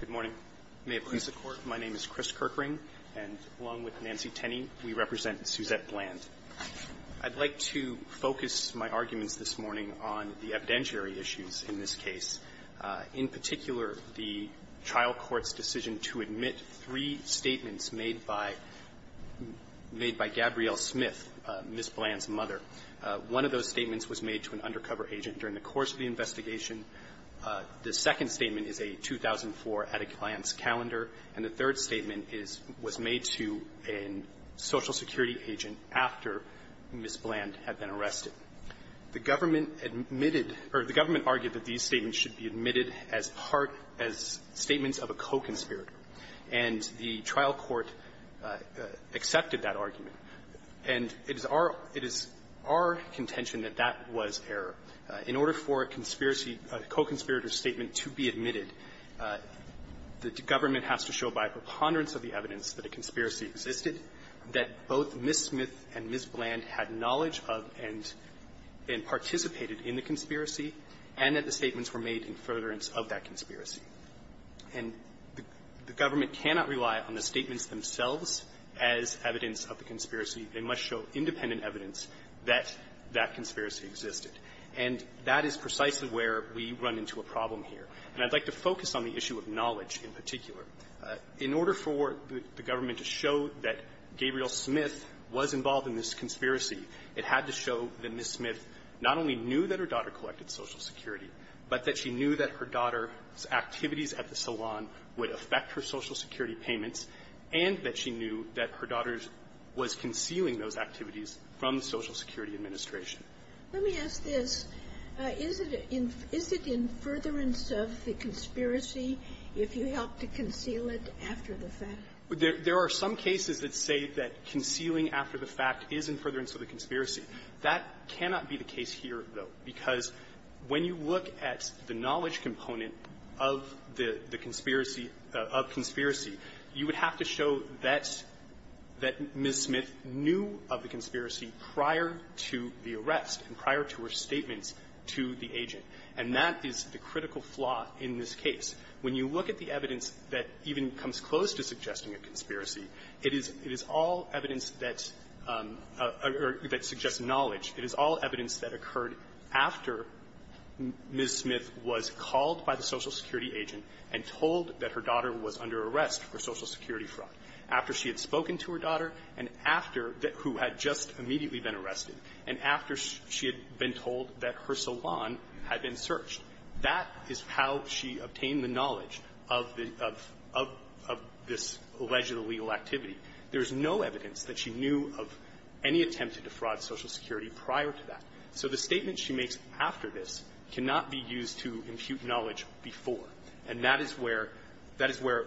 Good morning. May it please the Court, my name is Chris Kirkring, and along with Nancy Tenney, we represent Suzette Bland. I'd like to focus my arguments this morning on the evidentiary issues in this case, in particular, the trial court's decision to admit three statements made by Gabrielle Smith, Ms. Bland's mother. One of those statements was made to an undercover agent during the course of the investigation. The second statement is a 2004 at-a-client's calendar. And the third statement is was made to a Social Security agent after Ms. Bland had been arrested. The government admitted or the government argued that these statements should be admitted as part as statements of a co-conspirator. And the trial court accepted that argument. And it is our – it is our contention that that was error. In order for a conspiracy – a co-conspirator statement to be admitted, the government has to show by preponderance of the evidence that a conspiracy existed, that both Ms. Smith and Ms. Bland had knowledge of and participated in the conspiracy, and that the statements were made in furtherance of that conspiracy. And the government cannot rely on the statements themselves as evidence of the conspiracy. They must show independent evidence that that conspiracy existed. And that is precisely where we run into a problem here. And I'd like to focus on the issue of knowledge in particular. In order for the government to show that Gabrielle Smith was involved in this conspiracy, it had to show that Ms. Smith not only knew that her daughter collected Social Security, but that she knew that her daughter's Social Security payments, and that she knew that her daughter's was concealing those activities from the Social Security Administration. Let me ask this. Is it in – is it in furtherance of the conspiracy if you helped to conceal it after the fact? There are some cases that say that concealing after the fact is in furtherance of the conspiracy. That cannot be the case here, though, because when you look at the knowledge component of the conspiracy – of conspiracy, you would have to show that Ms. Smith knew of the conspiracy prior to the arrest and prior to her statements to the agent. And that is the critical flaw in this case. When you look at the evidence that even comes close to suggesting a conspiracy, it is all evidence that suggests knowledge. It is all evidence that occurred after Ms. Smith was called by the Social Security agent and told that her daughter was under arrest for Social Security fraud, after she had spoken to her daughter, and after – who had just immediately been arrested, and after she had been told that her salon had been searched. That is how she obtained the knowledge of the – of this alleged illegal activity. There is no evidence that she knew of any attempt to defraud Social Security prior to that. So the statement she makes after this cannot be used to impute knowledge before. And that is where – that is where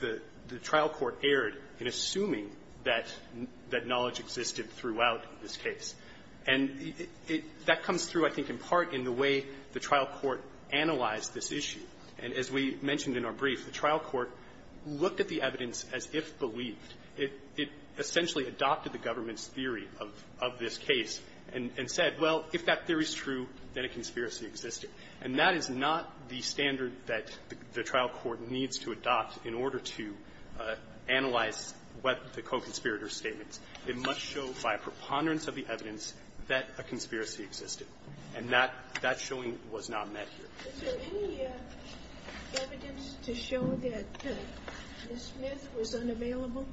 the trial court erred in assuming that – that knowledge existed throughout this case. And it – that comes through, I think, in part in the way the trial court analyzed this issue. And as we mentioned in our brief, the trial court looked at the evidence as if-believed. It – it essentially adopted the government's theory of – of this case and – and said, well, if that theory is true, then a conspiracy existed. And that is not the standard that the trial court needs to adopt in order to analyze what the co-conspirator's statements. It must show by a preponderance of the evidence that a conspiracy existed. And that – that showing was not met here. Is there any evidence to show that Ms. Smith was unavailable?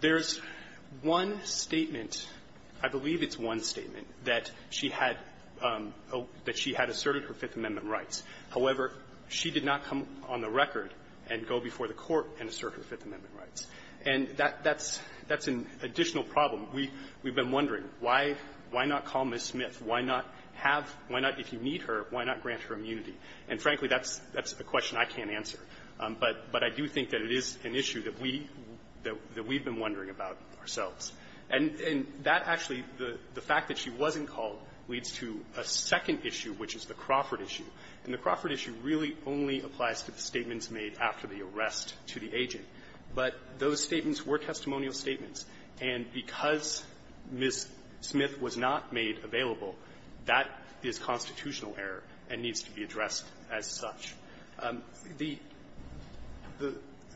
There's one statement. I believe it's one statement, that she had – that she had asserted her Fifth Amendment rights. However, she did not come on the record and go before the Court and assert her Fifth Amendment rights. And that – that's – that's an additional problem. We – we've been wondering, why – why not call Ms. Smith? Why not have – why not – if you need her, why not grant her immunity? And, frankly, that's – that's a question I can't answer. But – but I do think that it is an issue that we – that we've been wondering about ourselves. And – and that actually – the fact that she wasn't called leads to a second issue, which is the Crawford issue. And the Crawford issue really only applies to the statements made after the arrest to the agent. But those statements were testimonial statements. And because Ms. Smith was not made available, that is constitutional error and needs to be addressed as such. The –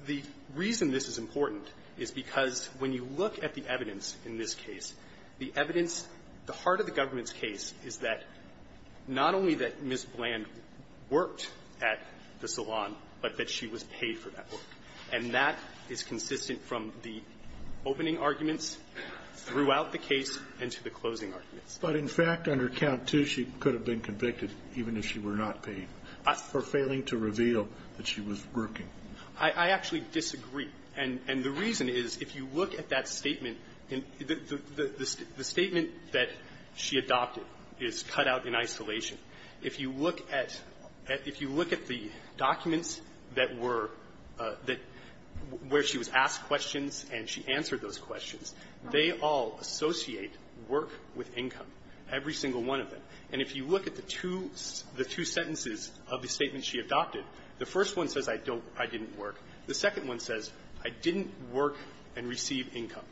the reason this is important is because when you look at the evidence in this case, the evidence – the heart of the government's case is that not only that Ms. Bland worked at the salon, but that she was paid for that work. And that is consistent from the opening arguments throughout the case and to the closing arguments. But, in fact, under Count II, she could have been convicted, even if she were not paid, for failing to reveal that she was working. I – I actually disagree. And – and the reason is, if you look at that statement, the – the – the statement that she adopted is cut out in isolation. If you look at – if you look at the documents that were – that – where she was asked questions and she answered those questions, they all associate work with income, every single one of them. And if you look at the two – the two sentences of the statement she adopted, the first one says I don't – I didn't work. The second one says I didn't work and receive income.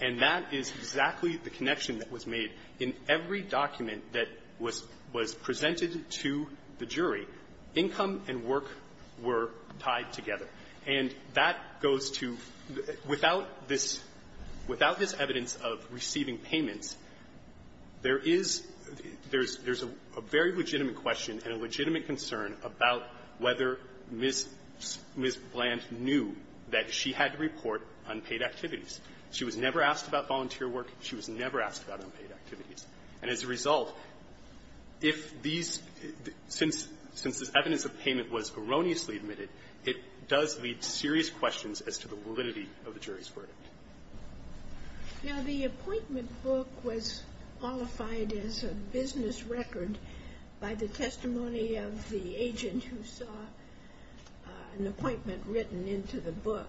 And that is exactly the connection that was made in every document that was – was presented to the jury. Income and work were tied together. And that goes to – without this – without this evidence of receiving payments, there is – there's – there's a very legitimate question and a legitimate concern about whether Ms. – Ms. Bland knew that she had to report unpaid activities. She was never asked about volunteer work. She was never asked about unpaid activities. And as a result, if these – since – since this evidence of payment was erroneously admitted, it does lead to serious questions as to the validity of the jury's verdict. Now, the appointment book was qualified as a business record by the testimony of the agent who saw an appointment written into the book.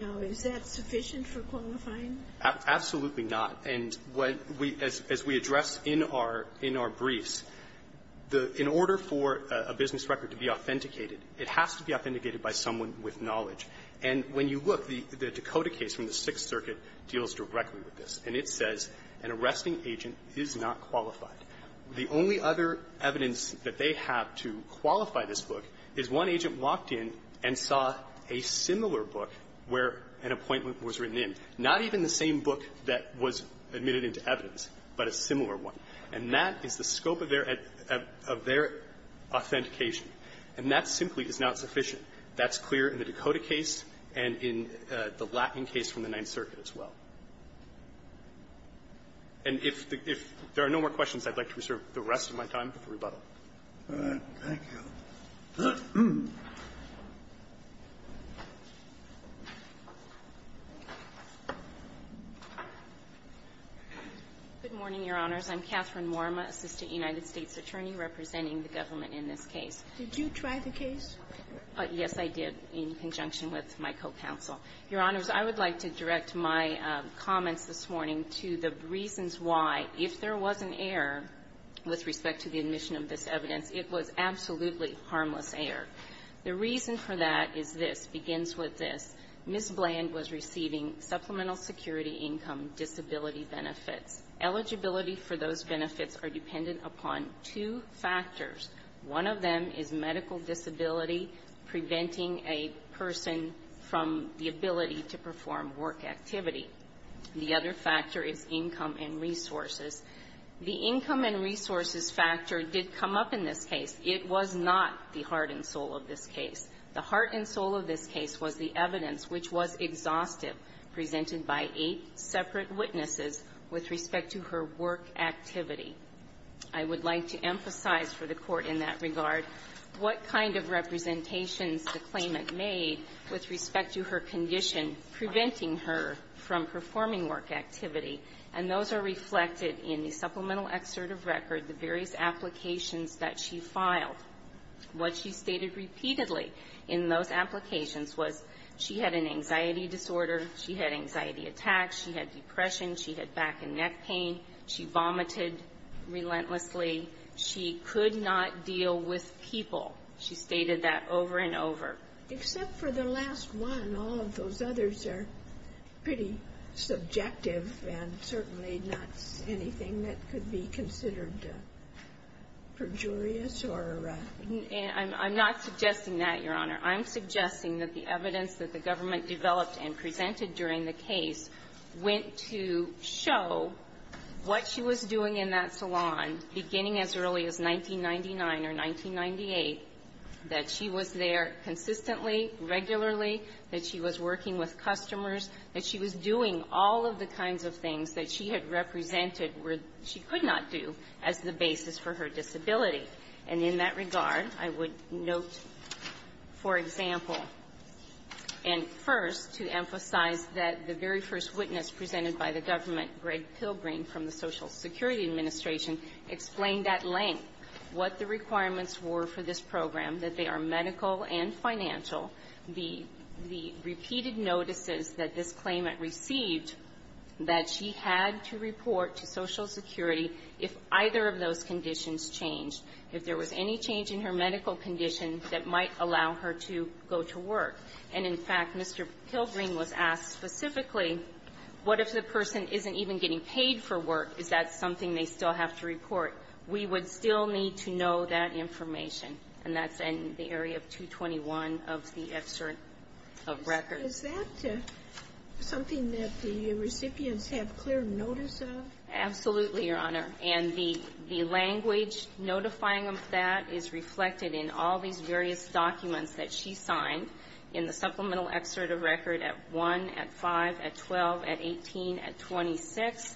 Now, is that sufficient for qualifying? Absolutely not. And what we – as we address in our – in our briefs, the – in order for a business record to be authenticated, it has to be authenticated by someone with knowledge. And when you look, the – the Dakota case from the Sixth Circuit deals directly with this, and it says an arresting agent is not qualified. The only other evidence that they have to qualify this book is one agent walked in and saw a similar book where an appointment was written in, not even the same book that was admitted into evidence, but a similar one. And that is the scope of their – of their authentication. And that simply is not sufficient. That's clear in the Dakota case and in the Latin case from the Ninth Circuit as well. And if the – if there are no more questions, I'd like to reserve the rest of my time for rebuttal. Thank you. Good morning, Your Honors. I'm Catherine Worma, Assistant United States Attorney representing the government in this case. Did you try the case? Yes, I did, in conjunction with my co-counsel. Your Honors, I would like to direct my comments this morning to the reasons why, if there was an error with respect to the admission of this evidence, it was absolutely harmless error. The reason for that is this, begins with this. Ms. Bland was receiving supplemental security income disability benefits. Eligibility for those benefits are dependent upon two factors. One of them is medical disability preventing a person from the ability to perform work activity. The other factor is income and resources. The income and resources factor did come up in this case. It was not the heart and soul of this case. The heart and soul of this case was the evidence, which was exhaustive, presented by eight separate witnesses with respect to her work activity. I would like to emphasize for the Court in that regard what kind of representations the claimant made with respect to her condition preventing her from performing work activity. And those are reflected in the supplemental excerpt of record, the various applications that she filed. What she stated repeatedly in those applications was she had an anxiety disorder. She had anxiety attacks. She had depression. She had back and neck pain. She vomited relentlessly. She could not deal with people. She stated that over and over. Except for the last one, all of those others are pretty subjective and certainly not anything that could be considered perjurious or ---- I'm not suggesting that, Your Honor. I'm suggesting that the evidence that the government developed and presented during the case went to show what she was doing in that salon beginning as early as 1999 or 1998, that she was there consistently, regularly, that she was working with customers, that she was doing all of the kinds of things that she had represented where she could not do as the basis for her disability. And in that regard, I would note, for example, and first to emphasize that the very first witness presented by the government, Greg Pilgrim, from the Social Security Administration, explained at length what the requirements were for this program, that they are medical and financial, the repeated notices that this claimant received that she had to report to Social Security if either of those conditions changed, if there was any change in her medical condition that might allow her to go to work. And, in fact, Mr. Pilgrim was asked specifically, what if the person isn't even getting paid for work? Is that something they still have to report? We would still need to know that information. And that's in the area of 221 of the excerpt of record. Sotomayor, is that something that the recipients have clear notice of? Absolutely, Your Honor. And the language notifying them of that is reflected in all these various documents that she signed in the supplemental excerpt of record at 1, at 5, at 12, at 18, at 26.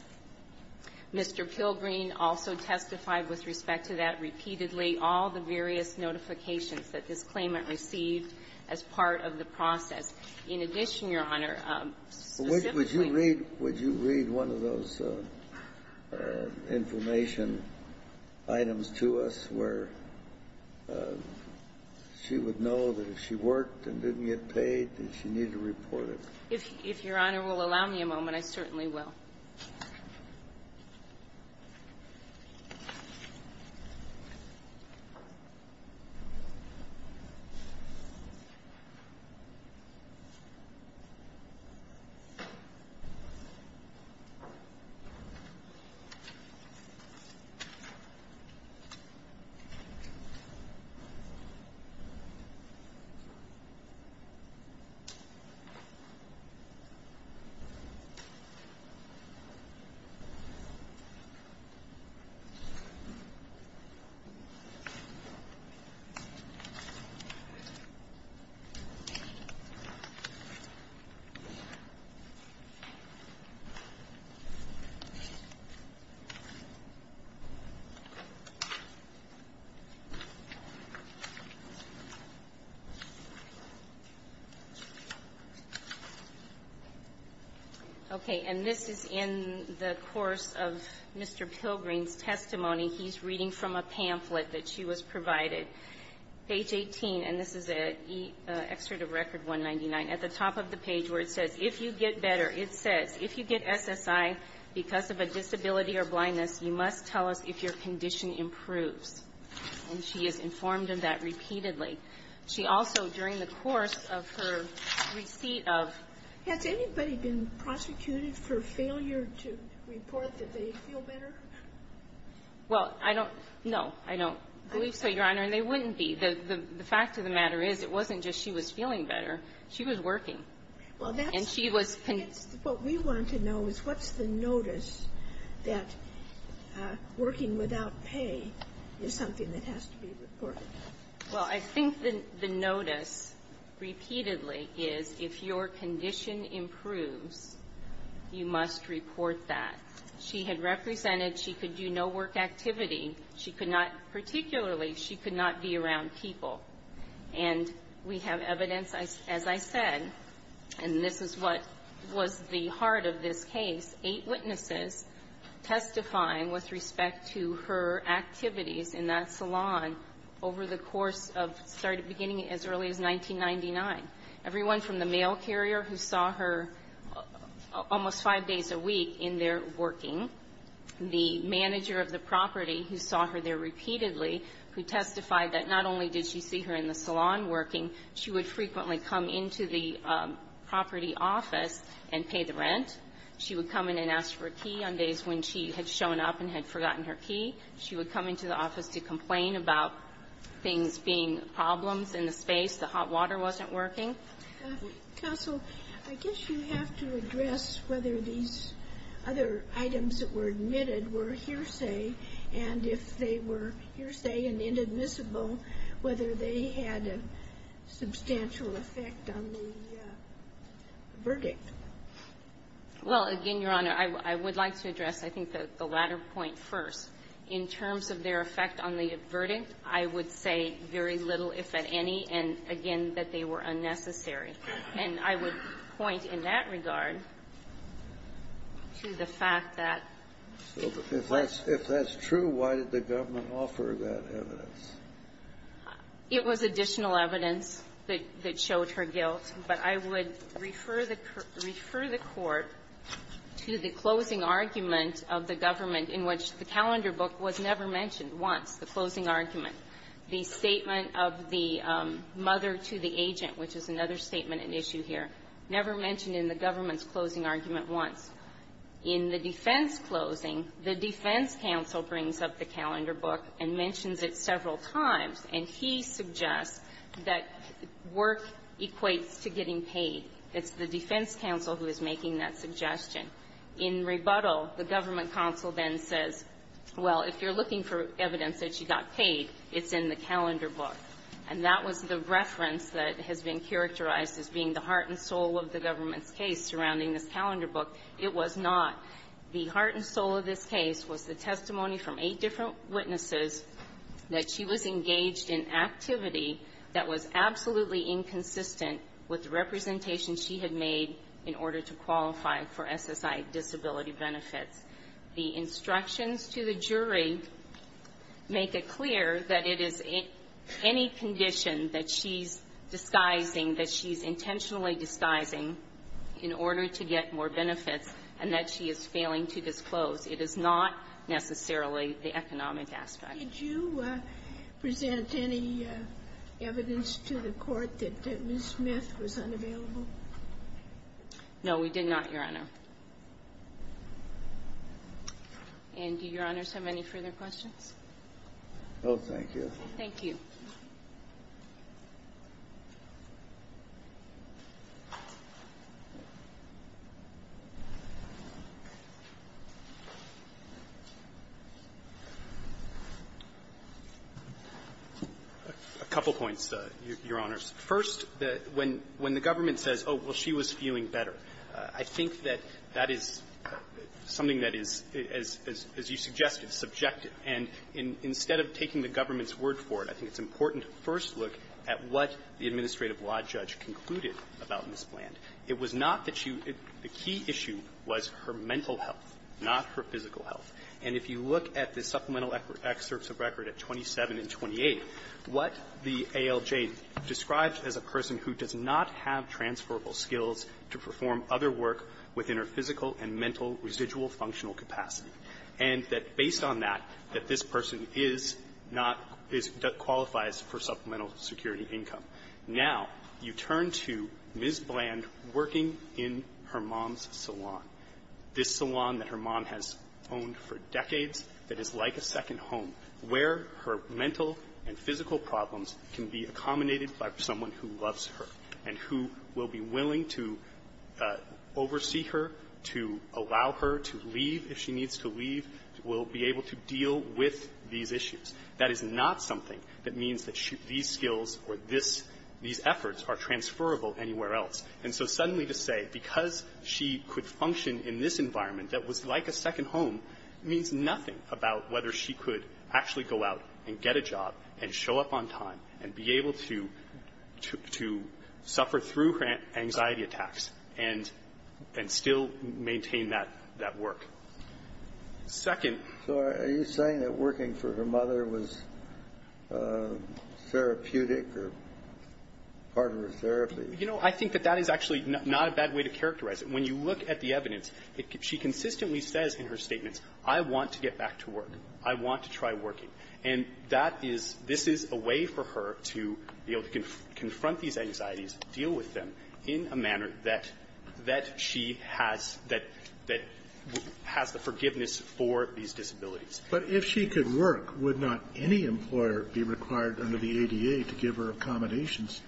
Mr. Pilgrim also testified with respect to that repeatedly, all the various notifications that this claimant received as part of the process. In addition, Your Honor, specifically Well, would you read one of those information items to us where she would know that if she worked and didn't get paid, that she needed to report it? If Your Honor will allow me a moment, I certainly will. Okay. And this is in the course of Mr. Pilgrim's testimony. He's reading from a pamphlet that she was provided. Page 18, and this is an excerpt of record 199. At the top of the page where it says, if you get better, it says, if you get SSI because of a disability or blindness, you must tell us if your condition improves. And she is informed of that repeatedly. She also, during the course of her receipt of Has anybody been prosecuted for failure to report that they feel better? Well, I don't know. I don't believe so, Your Honor. And they wouldn't be. The fact of the matter is, it wasn't just she was feeling better. She was working. And she was What we want to know is, what's the notice that working without pay is something that has to be reported? Well, I think the notice, repeatedly, is if your condition improves, you must report that. She had represented she could do no work activity. She could not, particularly, she could not be around people. And we have evidence, as I said, and this is what was the heart of this case, eight witnesses testifying with respect to her activities in that salon over the course of, sorry, beginning as early as 1999. Everyone from the mail carrier who saw her almost five days a week in there working, the manager of the property who saw her there repeatedly, who testified that not only did she see her in the salon working, she would frequently come into the property office and pay the rent. She would come in and ask for a key on days when she had shown up and had forgotten her key. She would come into the office to complain about things being problems in the space, the hot water wasn't working. Counsel, I guess you have to address whether these other items that were admitted were hearsay, and if they were hearsay and inadmissible, whether they had a substantial effect on the verdict. Well, again, Your Honor, I would like to address, I think, the latter point first. In terms of their effect on the verdict, I would say very little, if at any, and, again, that they were unnecessary. And I would point in that regard to the fact that if that's true, why did the government offer that evidence? It was additional evidence that showed her guilt. But I would refer the Court to the closing argument of the government, in which the calendar book was never mentioned once, the closing argument. The statement of the mother to the agent, which is another statement at issue here, never mentioned in the government's closing argument once. In the defense closing, the defense counsel brings up the calendar book and mentions it several times. And he suggests that work equates to getting paid. It's the defense counsel who is making that suggestion. In rebuttal, the government counsel then says, well, if you're looking for evidence that she got paid, it's in the calendar book. And that was the reference that has been characterized as being the heart and soul of the government's case surrounding this calendar book. It was not. The heart and soul of this case was the testimony from eight different witnesses that she was engaged in activity that was absolutely inconsistent with the representation she had made in order to qualify for SSI disability benefits. The instructions to the jury make it clear that it is in any condition that she's disguising, that she's intentionally disguising in order to get more benefits, and that she is failing to disclose. It is not necessarily the economic aspect. Did you present any evidence to the Court that Ms. Smith was unavailable? No, we did not, Your Honor. And do Your Honors have any further questions? No, thank you. Thank you. A couple points, Your Honors. First, when the government says, oh, well, she was feeling better, I think that that is something that is, as you suggested, subjective. And instead of taking the government's word for it, I think it's important to first look at what the administrative law judge concluded about Ms. Bland. It was not that she was – the key issue was her mental health, not her physical health. And if you look at the supplemental excerpts of record at 27 and 28, what the ALJ describes as a person who does not have transferable skills to perform other work within her physical and mental residual functional capacity, and that, based on that, that this person is not – is – that qualifies for supplemental security income. Now, you turn to Ms. Bland working in her mom's salon, this salon that her mom has owned for decades that is like a second home, where her mental and physical problems can be accommodated by someone who loves her and who will be willing to oversee her, to allow her to leave if she needs to leave, will be able to provide for her, will be able to deal with these issues. That is not something that means that these skills or this – these efforts are transferable anywhere else. And so suddenly to say because she could function in this environment that was like a second home means nothing about whether she could actually go out and get a job and show up on time and be able to – to suffer through her anxiety attacks and – and still maintain that – that work. Second… Kennedy. So are you saying that working for her mother was therapeutic or part of her therapy? You know, I think that that is actually not a bad way to characterize it. When you look at the evidence, she consistently says in her statements, I want to get back to work. I want to try working. And that is – this is a way for her to be able to confront these anxieties, deal with them in a manner that – that she has – that has the forgiveness for these disabilities. But if she could work, would not any employer be required under the ADA to give her accommodations?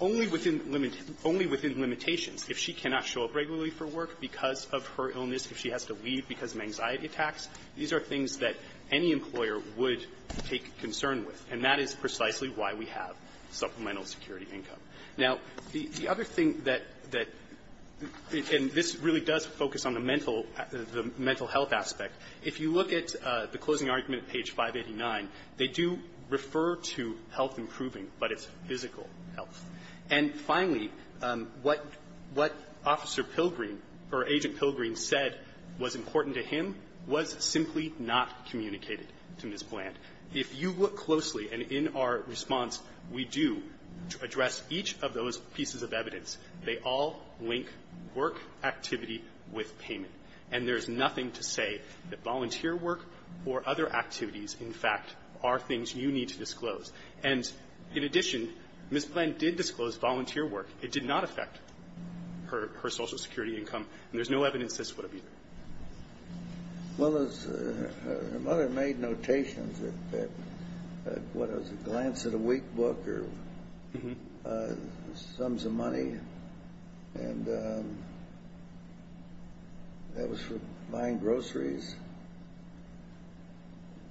Only within limit – only within limitations. If she cannot show up regularly for work because of her illness, if she has to leave because of anxiety attacks, these are things that any employer would take concern with. And that is precisely why we have supplemental security income. Now, the – the other thing that – that – and this really does focus on the mental – the mental health aspect. If you look at the closing argument at page 589, they do refer to health improving, but it's physical health. And finally, what – what Officer Pilgrim, or Agent Pilgrim, said was important to him was simply not communicated to Ms. Bland. If you look closely, and in our response, we do address each of those pieces of evidence. They all link work activity with payment. And there's nothing to say that volunteer work or other activities, in fact, are things you need to disclose. And in addition, Ms. Bland did disclose volunteer work. It did not affect her – her Social Security income, and there's no evidence this would have either. Well, as her mother made notations that – that, what, it was a glance at a weekbook or sums of money, and that was for buying groceries,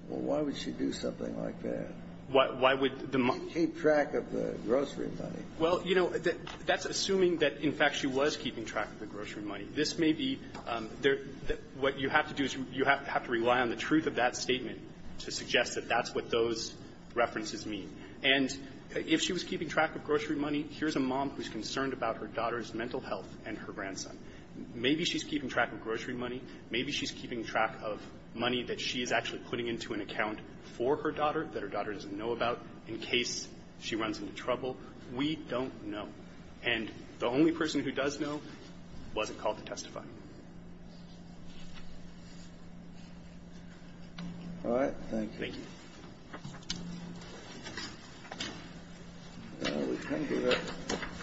well, why would she do something like that? Why – why would the mother keep track of the grocery money? Well, you know, that's assuming that, in fact, she was keeping track of the grocery money. This may be – there – what you have to do is you have to rely on the truth of that statement to suggest that that's what those references mean. And if she was keeping track of grocery money, here's a mom who's concerned about her daughter's mental health and her grandson. Maybe she's keeping track of grocery money. Maybe she's keeping track of money that she is actually putting into an account for her daughter that her daughter doesn't know about in case she runs into trouble. We don't know. And the only person who does know wasn't called to testify. All right. Thank you. Thank you. All right. Thank you.